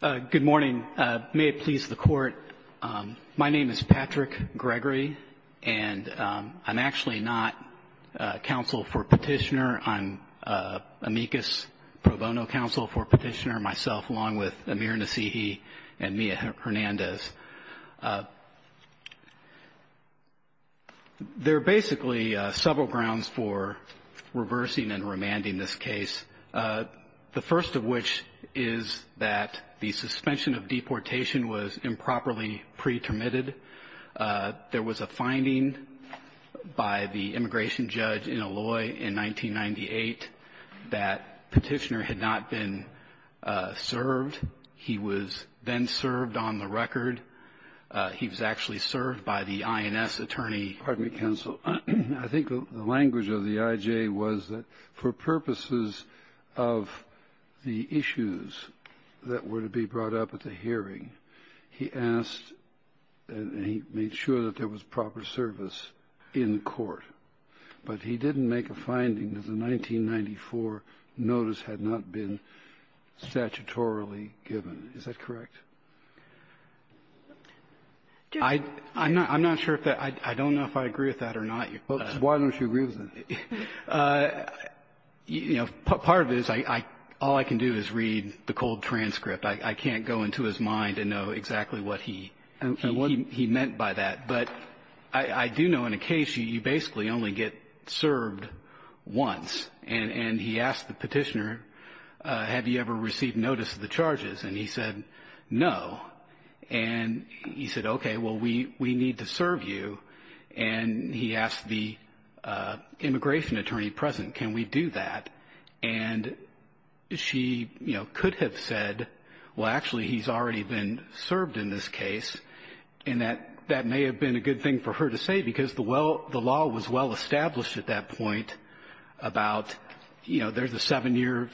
Good morning. May it please the Court, my name is Patrick Gregory, and I'm actually not counsel for petitioner. I'm amicus pro bono counsel for petitioner myself, along with Amir Nassihi and Mia Hernandez. There are basically several grounds for reversing and remanding this case. The first of which is that the suspension of deportation was improperly pretermitted. There was a finding by the immigration judge in Illoy in 1998 that petitioner had not been served. He was then served on the record. He was actually served by the INS attorney. Pardon me, counsel. I think the language of the I.J. was that for purposes of the issues that were to be brought up at the hearing, he asked and he made sure that there was proper service in court. But he didn't make a finding that the 1994 notice had not been statutorily given. Is that correct? I'm not sure if that – I don't know if I agree with that or not. Why don't you agree with that? You know, part of it is all I can do is read the cold transcript. I can't go into his mind and know exactly what he meant by that. But I do know in a case you basically only get served once. And he asked the petitioner, have you ever received notice of the charges? And he said no. And he said, okay, well, we need to serve you. And he asked the immigration attorney present, can we do that? And she, you know, could have said, well, actually, he's already been served in this case. And that may have been a good thing for her to say, because the law was well established at that point about, you know, there's a seven-year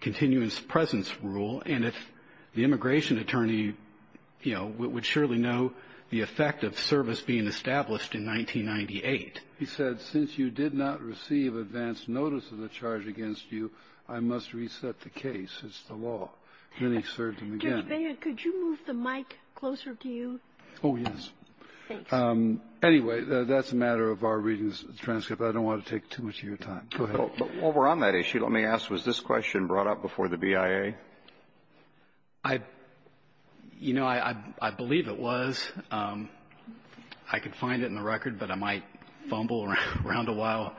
continuance presence rule. And if the immigration attorney, you know, would surely know the effect of service being established in 1998. He said, since you did not receive advance notice of the charge against you, I must reset the case. It's the law. Then he served him again. Kagan, could you move the mic closer to you? Oh, yes. Thanks. Anyway, that's a matter of our reading of the transcript. I don't want to take too much of your time. Go ahead. Over on that issue, let me ask, was this question brought up before the BIA? I, you know, I believe it was. I could find it in the record, but I might fumble around a while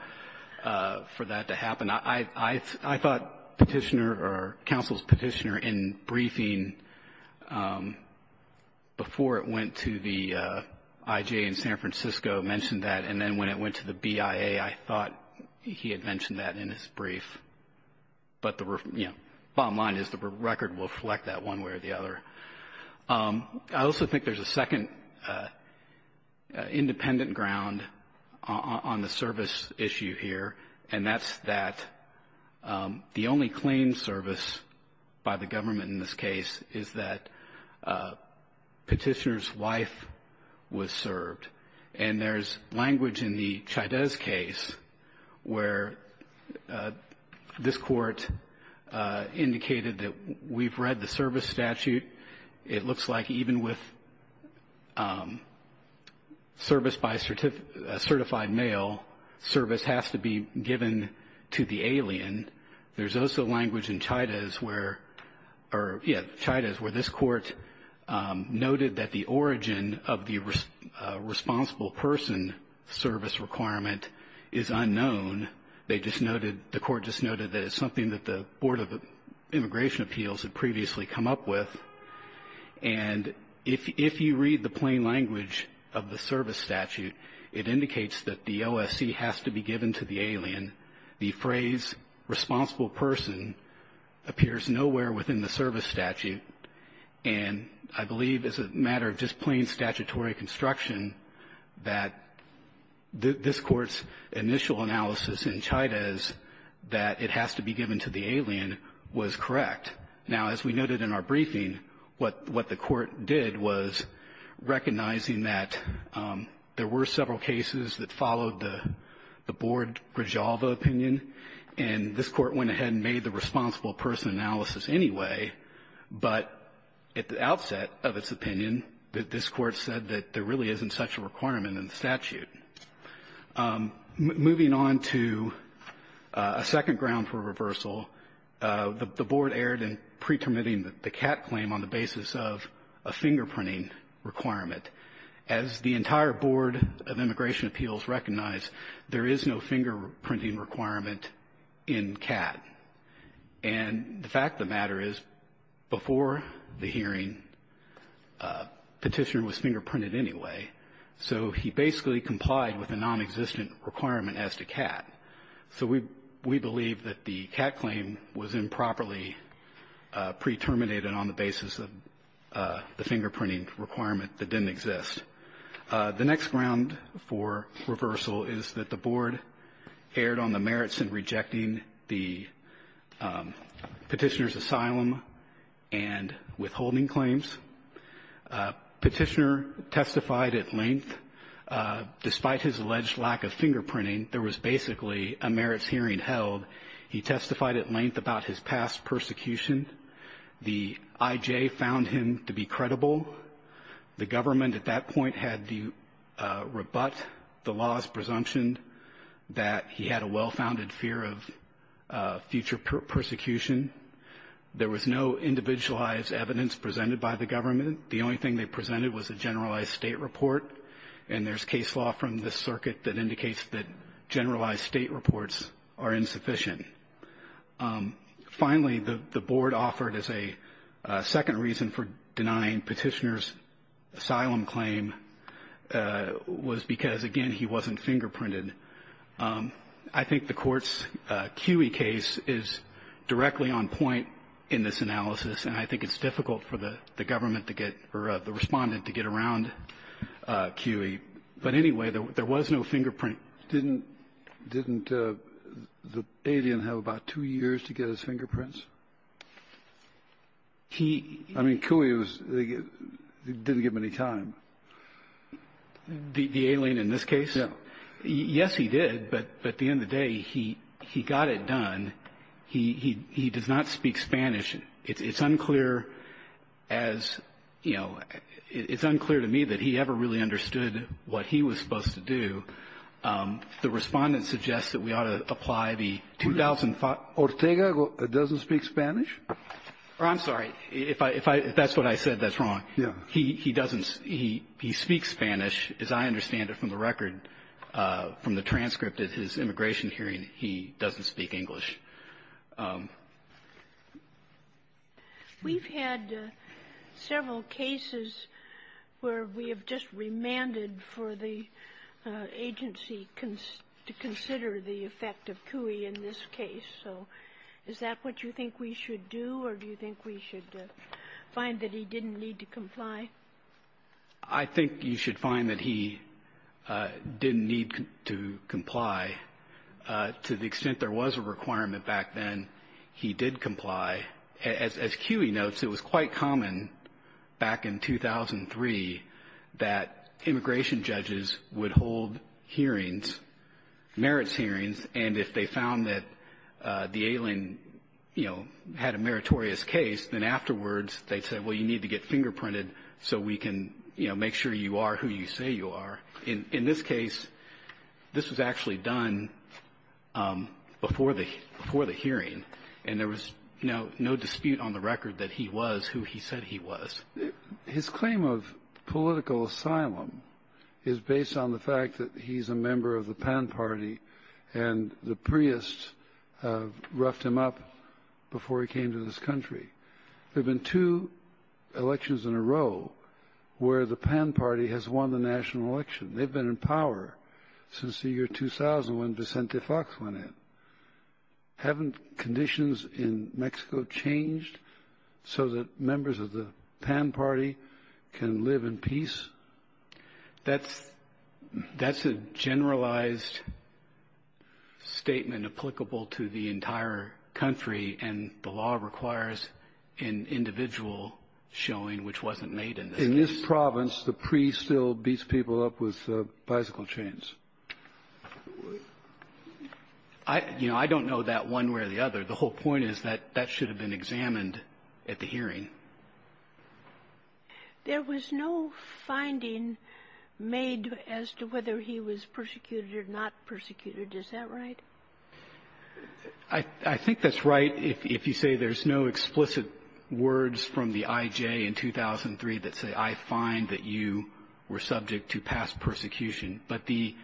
for that to happen. I thought Petitioner or counsel's Petitioner in briefing before it went to the IJ in San Francisco mentioned that. And then when it went to the BIA, I thought he had mentioned that in his brief. But the bottom line is the record will reflect that one way or the other. I also think there's a second independent ground on the service issue here, and that's that the only claim service by the government in this case is that Petitioner's wife was served. And there's language in the Chaidez case where this Court indicated that we've read the service statute. It looks like even with service by a certified male, service has to be given to the alien. There's also language in Chaidez where this Court noted that the origin of the responsible person service requirement is unknown. They just noted, the Court just noted that it's something that the Board of Immigration Appeals had previously come up with. And if you read the plain language of the service statute, it indicates that the OSC has to be given to the alien. The phrase responsible person appears nowhere within the service statute. And I believe as a matter of just plain statutory construction, that this Court's initial analysis in Chaidez that it has to be given to the alien was correct. Now, as we noted in our briefing, what the Court did was recognizing that there were several cases that followed the Board Rejalva opinion, and this Court went ahead and made the responsible person analysis anyway, but at the outset of its opinion, this Court said that there really isn't such a requirement in the statute. Moving on to a second ground for reversal, the Board erred in pretermitting the CAT claim on the basis of a fingerprinting requirement. As the entire Board of Immigration Appeals recognized, there is no fingerprinting requirement in CAT. And the fact of the matter is, before the hearing, Petitioner was fingerprinted anyway. So he basically complied with a nonexistent requirement as to CAT. So we believe that the CAT claim was improperly preterminated on the basis of the fingerprinting requirement that didn't exist. The next ground for reversal is that the Board erred on the merits in rejecting the Petitioner's asylum and withholding claims. Petitioner testified at length. Despite his alleged lack of fingerprinting, there was basically a merits hearing held. He testified at length about his past persecution. The IJ found him to be credible. The government at that point had to rebut the law's presumption that he had a well-founded fear of future persecution. There was no individualized evidence presented by the government. The only thing they presented was a generalized State report. And there's case law from this circuit that indicates that generalized State reports are insufficient. Finally, the Board offered as a second reason for denying Petitioner's asylum claim was because, again, he wasn't fingerprinted. I think the Court's QE case is directly on point in this analysis, and I think it's difficult for the government to get or the Respondent to get around QE. But anyway, there was no fingerprint. Didn't the alien have about two years to get his fingerprints? I mean, QE didn't give him any time. The alien in this case? Yes, he did, but at the end of the day, he got it done. He does not speak Spanish. It's unclear as, you know, it's unclear to me that he ever really understood what he was supposed to do. The Respondent suggests that we ought to apply the two thousand five. Ortega doesn't speak Spanish? I'm sorry. If that's what I said, that's wrong. Yes. He doesn't. He speaks Spanish. As I understand it from the record, from the transcript at his immigration hearing, he doesn't speak English. We've had several cases where we have just remanded for the agency to consider the effect of QE in this case. So is that what you think we should do, or do you think we should find that he didn't need to comply? I think you should find that he didn't need to comply to the extent there was a requirement back then. He did comply. As QE notes, it was quite common back in 2003 that immigration judges would hold hearings, merits hearings, and if they found that the alien, you know, had a meritorious case, then afterwards they'd say, well, you need to get fingerprinted so we can, you know, make sure you are who you say you are. In this case, this was actually done before the hearing, and there was no dispute on the record that he was who he said he was. His claim of political asylum is based on the fact that he's a member of the Pan Party, and the Priests roughed him up before he came to this country. There have been two elections in a row where the Pan Party has won the national election. They've been in power since the year 2000 when Vicente Fox went in. Haven't conditions in Mexico changed so that members of the Pan Party can live in peace? That's a generalized statement applicable to the entire country, and the law requires an individual showing which wasn't made in this case. In this province, the Priests still beat people up with bicycle chains. You know, I don't know that one way or the other. The whole point is that that should have been examined at the hearing. There was no finding made as to whether he was persecuted or not persecuted. Is that right? I think that's right if you say there's no explicit words from the I.J. in 2003 that say, I find that you were subject to past persecution. But the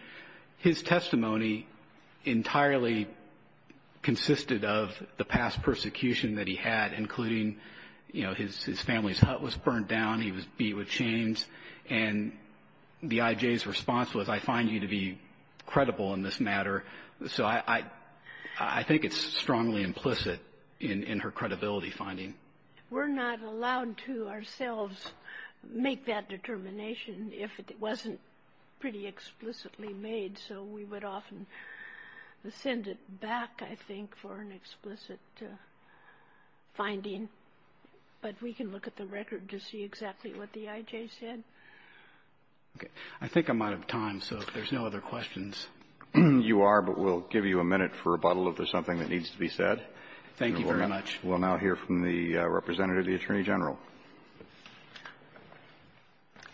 his testimony entirely consisted of the past persecution that he had, including, you know, his family's hut was burned down, he was beat with chains. And the I.J.'s response was, I find you to be credible in this matter. So I think it's strongly implicit in her credibility finding. We're not allowed to ourselves make that determination if it wasn't pretty explicitly made. So we would often send it back, I think, for an explicit finding. But we can look at the record to see exactly what the I.J. said. Okay. I think I'm out of time, so if there's no other questions. You are, but we'll give you a minute for rebuttal if there's something that needs to be said. Thank you very much. We'll now hear from the Representative of the Attorney General.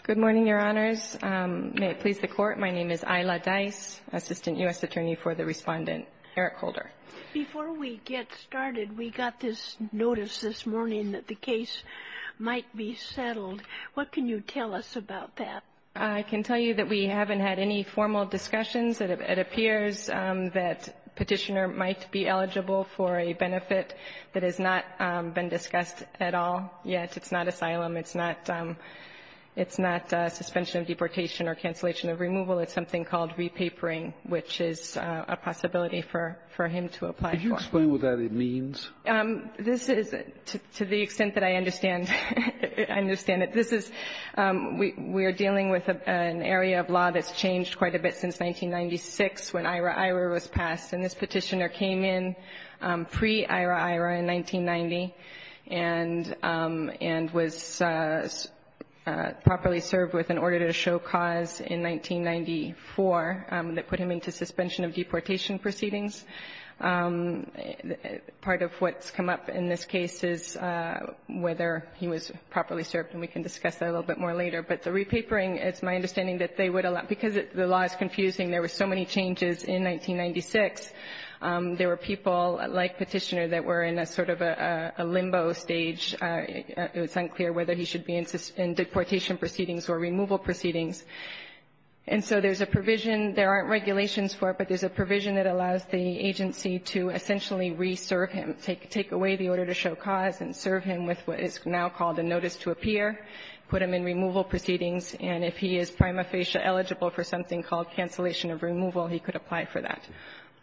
Good morning, Your Honors. May it please the Court. My name is Isla Dice, Assistant U.S. Attorney for the Respondent, Eric Holder. Before we get started, we got this notice this morning that the case might be settled. What can you tell us about that? I can tell you that we haven't had any formal discussions. It appears that Petitioner might be eligible for a benefit that has not been discussed at all yet. It's not asylum. It's not suspension of deportation or cancellation of removal. It's something called repapering, which is a possibility for him to apply for. Can you explain what that means? This is, to the extent that I understand, I understand it. This is we're dealing with an area of law that's changed quite a bit since 1996 when IHRA-IHRA was passed. And this Petitioner came in pre-IHRA-IHRA in 1990 and was properly served with an order to show cause in 1994 that put him into suspension of deportation proceedings. Part of what's come up in this case is whether he was properly served, and we can discuss that a little bit more later. But the repapering, it's my understanding that they would allow, because the law is confusing, there were so many changes in 1996. There were people like Petitioner that were in a sort of a limbo stage. It was unclear whether he should be in deportation proceedings or removal proceedings. And so there's a provision. There aren't regulations for it, but there's a provision that allows the agency to essentially reserve him, take away the order to show cause and serve him with what is now called a notice to appear, put him in removal proceedings. And if he is prima facie eligible for something called cancellation of removal, he could apply for that.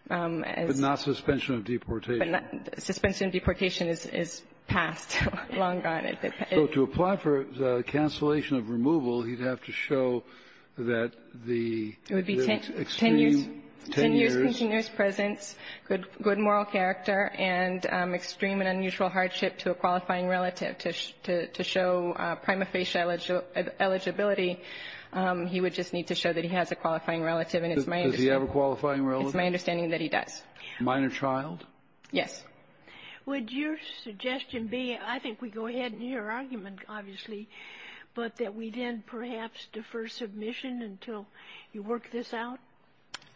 Kennedy. But not suspension of deportation. Suspension of deportation is passed long gone. So to apply for the cancellation of removal, he'd have to show that the extreme 10 years continuous presence, good moral character, and extreme and unusual hardship to a qualifying relative to show prima facie eligibility. He would just need to show that he has a qualifying relative. And it's my understanding. Does he have a qualifying relative? It's my understanding that he does. Minor child? Yes. Would your suggestion be, I think we go ahead in your argument, obviously, but that we then perhaps defer submission until you work this out?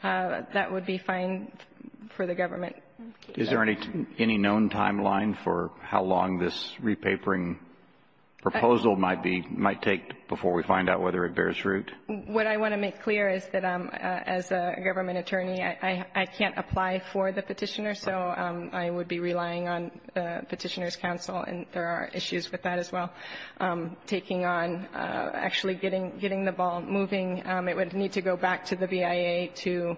That would be fine for the government. Is there any known timeline for how long this repapering proposal might be, might take before we find out whether it bears root? What I want to make clear is that as a government attorney, I can't apply for the petitioner. So I would be relying on the petitioner's counsel, and there are issues with that as well. Taking on actually getting the ball moving, it would need to go back to the BIA to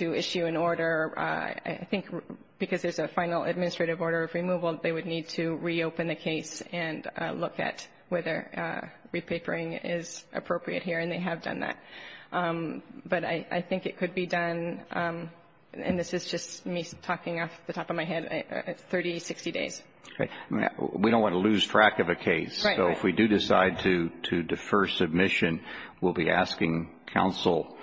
issue an order I think because there's a final administrative order of removal, they would need to reopen the case and look at whether repapering is appropriate here, and they have done that. But I think it could be done, and this is just me talking off the top of my head, 30, 60 days. We don't want to lose track of a case. So if we do decide to defer submission, we'll be asking counsel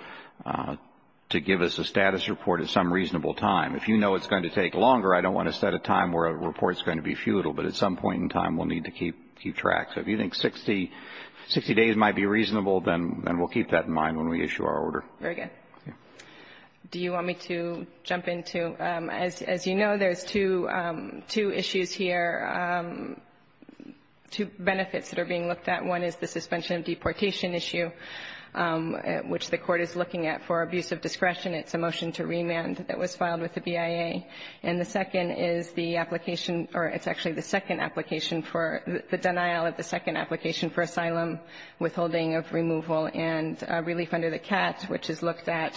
to give us a status report at some reasonable time. If you know it's going to take longer, I don't want to set a time where a report is going to be futile, but at some point in time we'll need to keep track. So if you think 60 days might be reasonable, then we'll keep that in mind when we issue our order. Very good. Do you want me to jump into, as you know, there's two issues here, two benefits that are being looked at. One is the suspension of deportation issue, which the court is looking at for abuse of discretion. It's a motion to remand that was filed with the BIA. And the second is the application, or it's actually the second application for the denial of the second application for asylum withholding of removal and relief under the CAT, which is looked at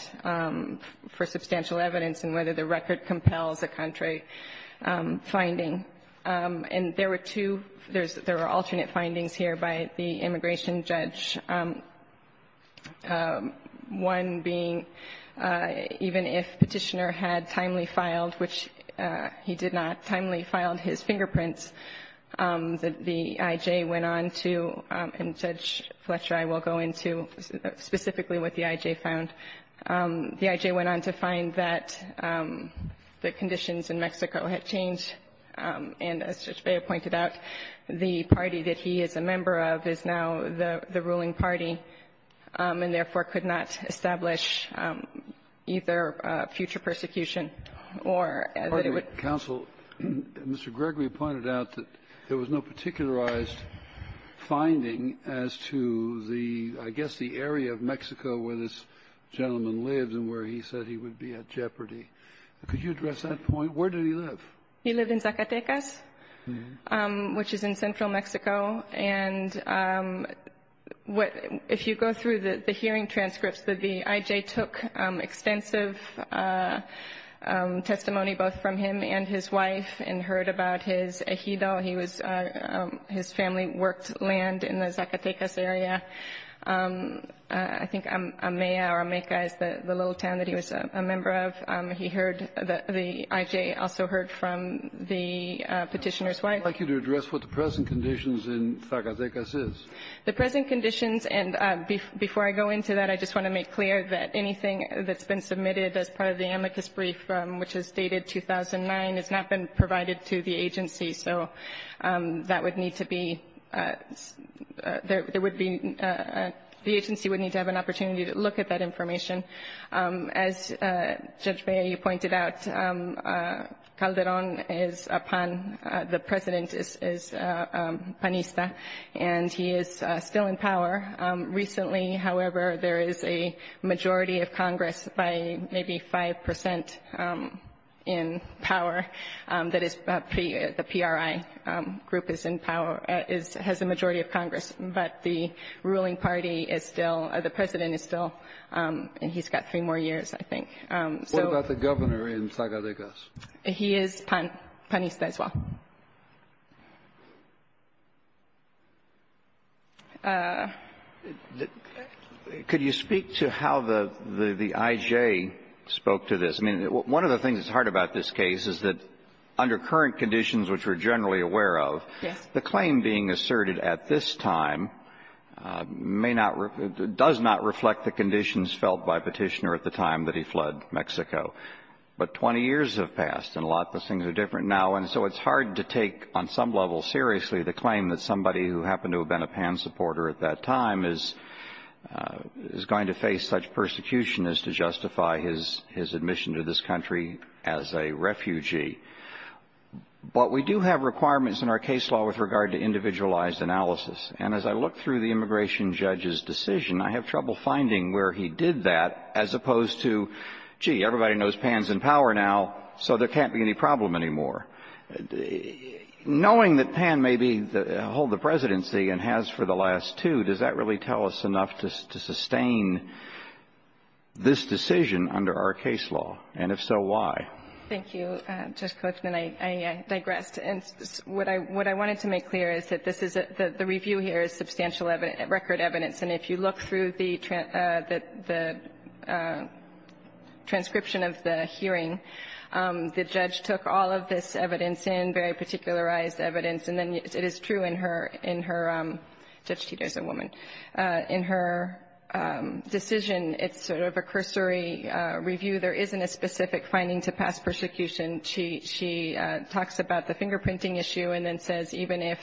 for substantial evidence and whether the record compels a contrary finding. And there were two, there were alternate findings here by the immigration judge, one being even if Petitioner had timely filed, which he did not timely filed his fingerprints, the I.J. went on to, and Judge Fletcher, I will go into specifically what the I.J. found. The I.J. went on to find that the conditions in Mexico had changed. And as Judge Beyer pointed out, the party that he is a member of is now the ruling party, and therefore could not establish either future persecution or that it would Counsel, Mr. Gregory pointed out that there was no particularized finding as to the, I guess, the area of Mexico where this gentleman lives and where he said he would be at jeopardy. Could you address that point? Where did he live? He lived in Zacatecas, which is in central Mexico. And if you go through the hearing transcripts, the I.J. took extensive testimony both from him and his wife and heard about his ejido. He was, his family worked land in the Zacatecas area. I think Amea or Ameca is the little town that he was a member of. He heard, the I.J. also heard from the Petitioner's wife. I would like you to address what the present conditions in Zacatecas is. The present conditions, and before I go into that, I just want to make clear that anything that's been submitted as part of the amicus brief, which is dated 2009, has not been provided to the agency, so that would need to be, there would be, the agency would need to have an opportunity to look at that information. As Judge Bea, you pointed out, Calderon is a pan, the president is panista, and he is still in power. Recently, however, there is a majority of Congress by maybe 5% in power that is, the PRI group is in power, has a majority of Congress, but the ruling party is still, the president is still, and he's got three more years, I think. What about the governor in Zacatecas? He is panista as well. Could you speak to how the I.J. spoke to this? I mean, one of the things that's hard about this case is that under current conditions, which we're generally aware of, the claim being asserted at this time may not, does not reflect the conditions felt by Petitioner at the time that he fled Mexico. But 20 years have passed, and a lot of things are different now, and so it's hard to take on some level seriously the claim that somebody who happened to have been a pan supporter at that time is going to face such persecution as to justify his admission to this country as a refugee. But we do have requirements in our case law with regard to individualized analysis, and as I look through the immigration judge's decision, I have trouble finding where he did that, as opposed to, gee, everybody knows Pan's in power now, so there can't be any problem anymore. Knowing that Pan may hold the presidency and has for the last two, does that really tell us enough to sustain this decision under our case law? And if so, why? Thank you, Justice Cochran. I digress. And what I wanted to make clear is that this is a, the review here is substantial record evidence. And if you look through the transcription of the hearing, the judge took all of this evidence in, very particularized evidence, and then it is true in her, in her, Judge Teeter is a woman, in her decision, it's sort of a cursory review. There isn't a specific finding to past persecution. She talks about the fingerprinting issue and then says, even if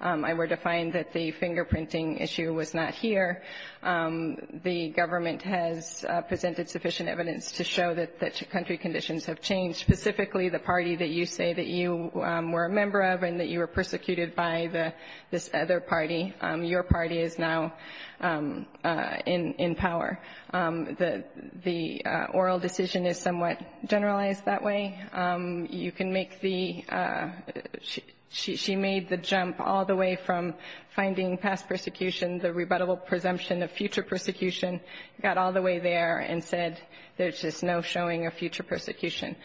I were to find that the fingerprinting issue was not here, the government has presented sufficient evidence to show that country conditions have changed, specifically the party that you say that you were a member of and that you were persecuted by, this other party, your party is now in power. The oral decision is somewhat generalized that way. You can make the, she made the jump all the way from finding past persecution, the rebuttable presumption of future persecution, got all the way there and said, there's just no showing of future persecution.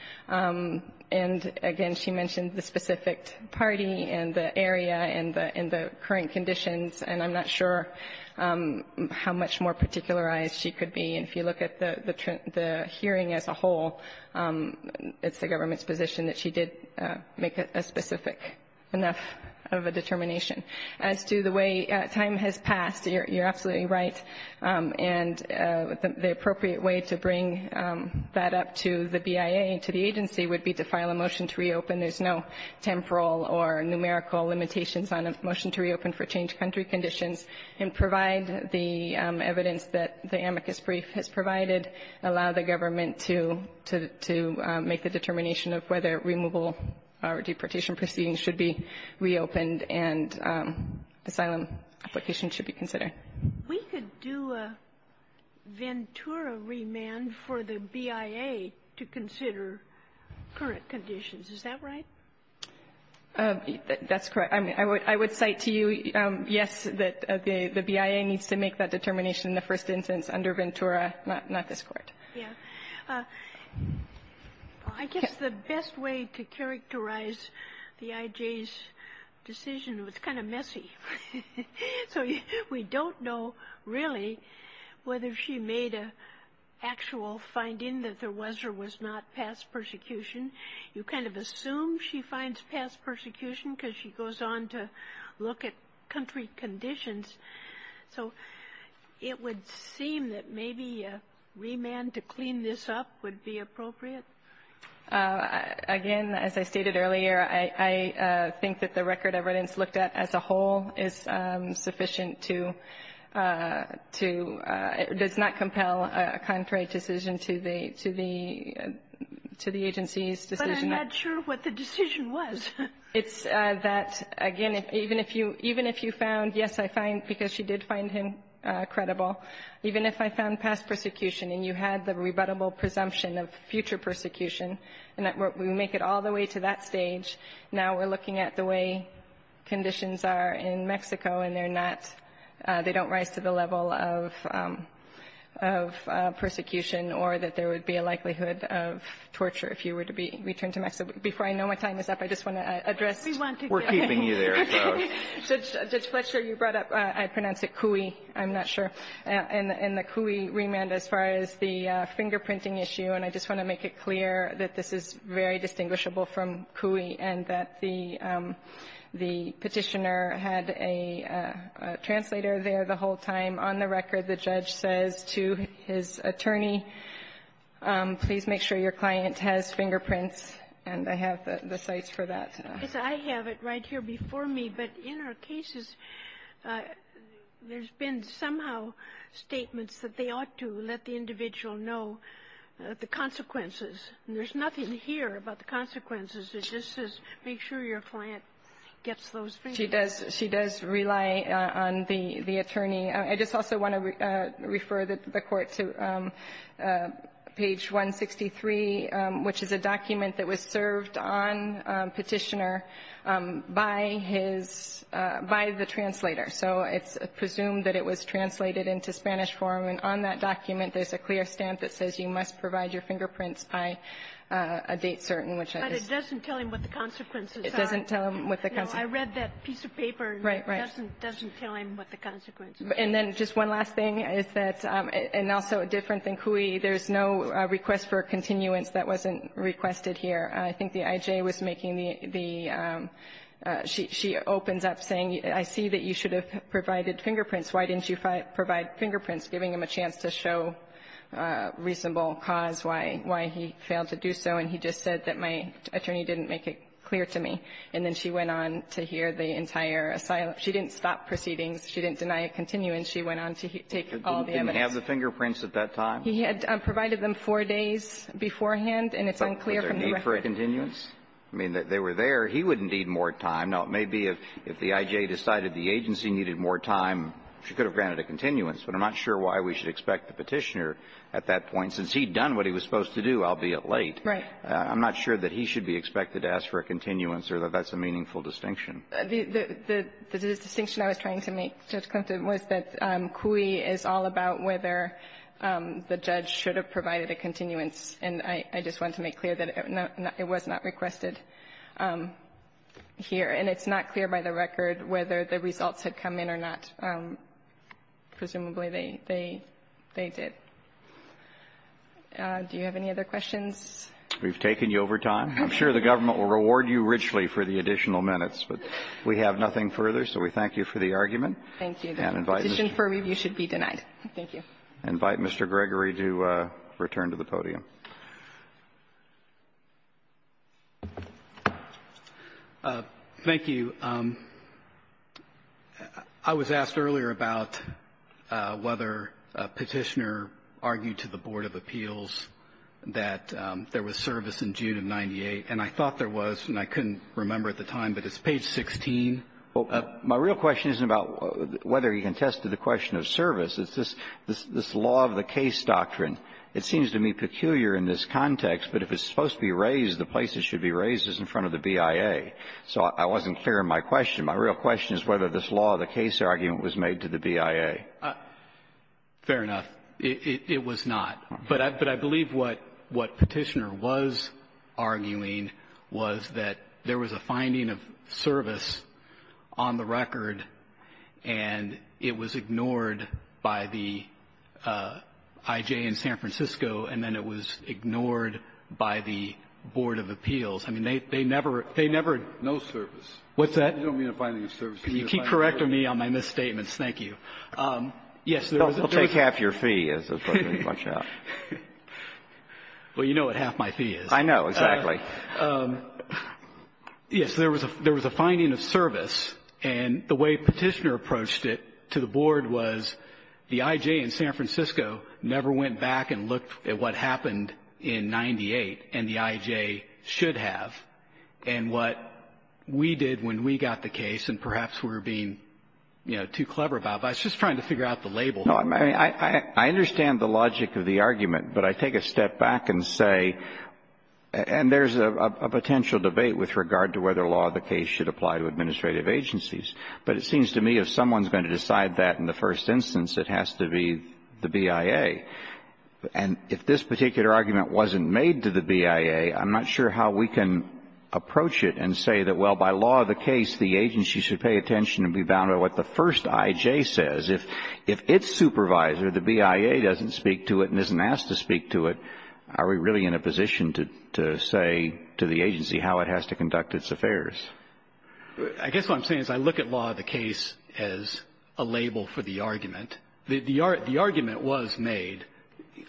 And again, she mentioned the specific party and the area and the current conditions, and I'm not sure how much more particularized she could be. And if you look at the hearing as a whole, it's the government's position that she did make a specific enough of a determination. As to the way time has passed, you're absolutely right. And the appropriate way to bring that up to the BIA and to the agency would be to file a motion to reopen. There's no temporal or numerical limitations on a motion to reopen for changed country conditions and provide the evidence that the amicus brief has provided, allow the government to make the determination of whether removal or deportation proceedings should be reopened and asylum applications should be considered. We could do a Ventura remand for the BIA to consider current conditions. Is that right? That's correct. I would cite to you, yes, that the BIA needs to make that determination in the first instance under Ventura, not this Court. Yeah. I guess the best way to characterize the IJ's decision was kind of messy. So we don't know really whether she made an actual finding that there was or was not past persecution. You kind of assume she finds past persecution because she goes on to look at country conditions. So it would seem that maybe a remand to clean this up would be appropriate. Again, as I stated earlier, I think that the record of evidence looked at as a whole is sufficient to does not compel a contrary decision to the agency's decision. But I'm not sure what the decision was. It's that, again, even if you found, yes, I find, because she did find him credible, even if I found past persecution and you had the rebuttable presumption of future persecution and that we make it all the way to that stage, now we're looking at the way conditions are in Mexico and they're not, they don't rise to the level of persecution or that there would be a likelihood of torture if you were to be returned to Mexico. Before I know my time is up, I just want to address. We're keeping you there. Judge Fletcher, you brought up, I pronounce it Cui, I'm not sure, and the Cui remand as far as the fingerprinting issue. And I just want to make it clear that this is very distinguishable from Cui and that the Petitioner had a translator there the whole time. On the record, the judge says to his attorney, please make sure your client has fingerprints, and I have the sites for that. I have it right here before me. But in our cases, there's been somehow statements that they ought to let the individual know the consequences. And there's nothing here about the consequences. It just says make sure your client gets those fingerprints. She does rely on the attorney. I just also want to refer the Court to page 163, which is a document that was served on Petitioner by his, by the translator. So it's presumed that it was translated into Spanish form, and on that document there's a clear stamp that says you must provide your fingerprints by a date certain, which I just don't know. Kagan. But it doesn't tell him what the consequences are. It doesn't tell him what the consequences are. I read that piece of paper. Right, right. It doesn't tell him what the consequences are. And then just one last thing is that, and also different than Cui, there's no request for continuance that wasn't requested here. I think the IJ was making the, she opens up saying, I see that you should have provided fingerprints. Why didn't you provide fingerprints, giving him a chance to show reasonable cause why he failed to do so. And he just said that my attorney didn't make it clear to me. And then she went on to hear the entire asylum. She didn't stop proceedings. She didn't deny a continuance. She went on to take all the evidence. He didn't have the fingerprints at that time? He had provided them four days beforehand, and it's unclear from the record. Was there a need for a continuance? I mean, they were there. He wouldn't need more time. Now, it may be if the IJ decided the agency needed more time, she could have granted a continuance, but I'm not sure why we should expect the Petitioner at that point since he'd done what he was supposed to do, albeit late. I'm not sure that he should be expected to ask for a continuance or that that's a meaningful distinction. The distinction I was trying to make, Judge Klimt, was that CUI is all about whether the judge should have provided a continuance. And I just want to make clear that it was not requested here. And it's not clear by the record whether the results had come in or not. Presumably, they did. Do you have any other questions? We've taken you over time. I'm sure the government will reward you richly for the additional minutes. But we have nothing further, so we thank you for the argument. Thank you. And invite Mr. Gregory to return to the podium. Thank you. I was asked earlier about whether Petitioner argued to the Board of Appeals that there was service in June of 98. And I thought there was, and I couldn't remember at the time, but it's page 16. Well, my real question isn't about whether he contested the question of service. It's this law of the case doctrine. It seems to me peculiar in this context, but if it's supposed to be raised, the place it should be raised is in front of the BIA. So I wasn't clear in my question. My real question is whether this law of the case argument was made to the BIA. Fair enough. It was not. But I believe what Petitioner was arguing was that there was a finding of service on the record, and it was ignored by the IJ in San Francisco, and then it was ignored by the Board of Appeals. I mean, they never ---- No service. What's that? You don't mean a finding of service. Can you keep correct of me on my misstatements? Thank you. Yes, there was a ---- We'll take half your fee, as the President will watch out. Well, you know what half my fee is. I know, exactly. Yes. There was a finding of service, and the way Petitioner approached it to the Board was the IJ in San Francisco never went back and looked at what happened in 98, and what the IJ should have, and what we did when we got the case, and perhaps we were being, you know, too clever about it. I was just trying to figure out the label. No, I mean, I understand the logic of the argument, but I take a step back and say ---- and there's a potential debate with regard to whether law of the case should apply to administrative agencies. But it seems to me if someone's going to decide that in the first instance, it has to be the BIA. And if this particular argument wasn't made to the BIA, I'm not sure how we can approach it and say that, well, by law of the case, the agency should pay attention and be bound by what the first IJ says. If its supervisor, the BIA, doesn't speak to it and isn't asked to speak to it, are we really in a position to say to the agency how it has to conduct its affairs? I guess what I'm saying is I look at law of the case as a label for the argument. The argument was made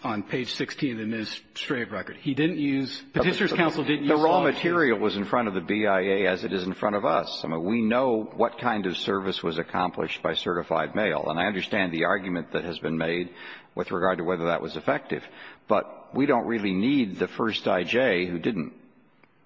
on page 16 of the administrative record. He didn't use ---- Petitioner's counsel didn't use law of the case. The raw material was in front of the BIA as it is in front of us. I mean, we know what kind of service was accomplished by certified mail. And I understand the argument that has been made with regard to whether that was effective, but we don't really need the first IJ, who didn't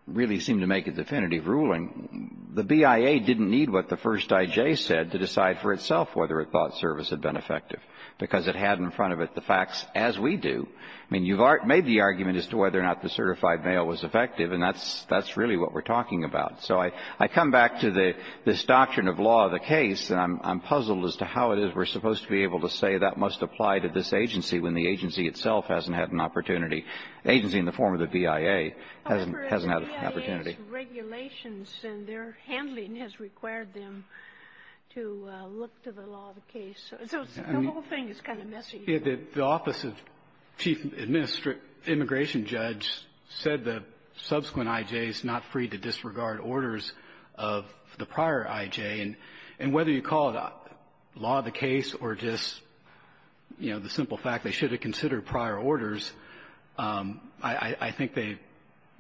really seem to make a definitive ruling. The BIA didn't need what the first IJ said to decide for itself whether it thought that that service had been effective because it had in front of it the facts as we do. I mean, you've made the argument as to whether or not the certified mail was effective, and that's really what we're talking about. So I come back to this doctrine of law of the case, and I'm puzzled as to how it is we're supposed to be able to say that must apply to this agency when the agency itself hasn't had an opportunity, the agency in the form of the BIA hasn't had an opportunity. The BIA has regulations, and their handling has required them to look to the law of the case. So the whole thing is kind of messy. The office of chief immigration judge said the subsequent IJs not free to disregard orders of the prior IJ. And whether you call it law of the case or just, you know, the simple fact they should consider prior orders, I think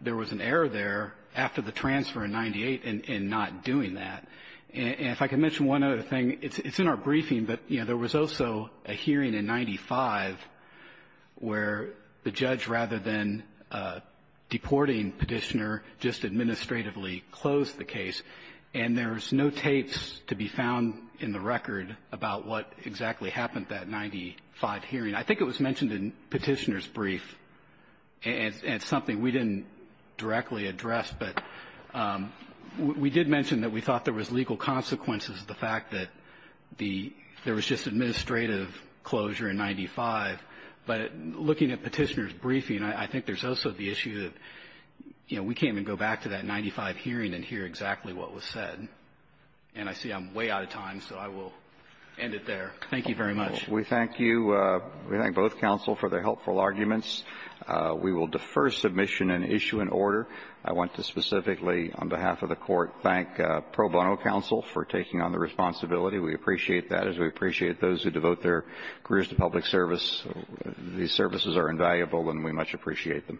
there was an error there after the transfer in 98 in not doing that. And if I can mention one other thing, it's in our briefing, but, you know, there was also a hearing in 95 where the judge, rather than deporting Petitioner, just administratively closed the case. And there's no tapes to be found in the record about what exactly happened that 95 hearing. I think it was mentioned in Petitioner's brief, and it's something we didn't directly address, but we did mention that we thought there was legal consequences of the fact that the – there was just administrative closure in 95. But looking at Petitioner's briefing, I think there's also the issue that, you know, we can't even go back to that 95 hearing and hear exactly what was said. And I see I'm way out of time, so I will end it there. Thank you very much. We thank you. We thank both counsel for their helpful arguments. We will defer submission and issue an order. I want to specifically, on behalf of the Court, thank Pro Bono Counsel for taking on the responsibility. We appreciate that, as we appreciate those who devote their careers to public service. These services are invaluable, and we much appreciate them.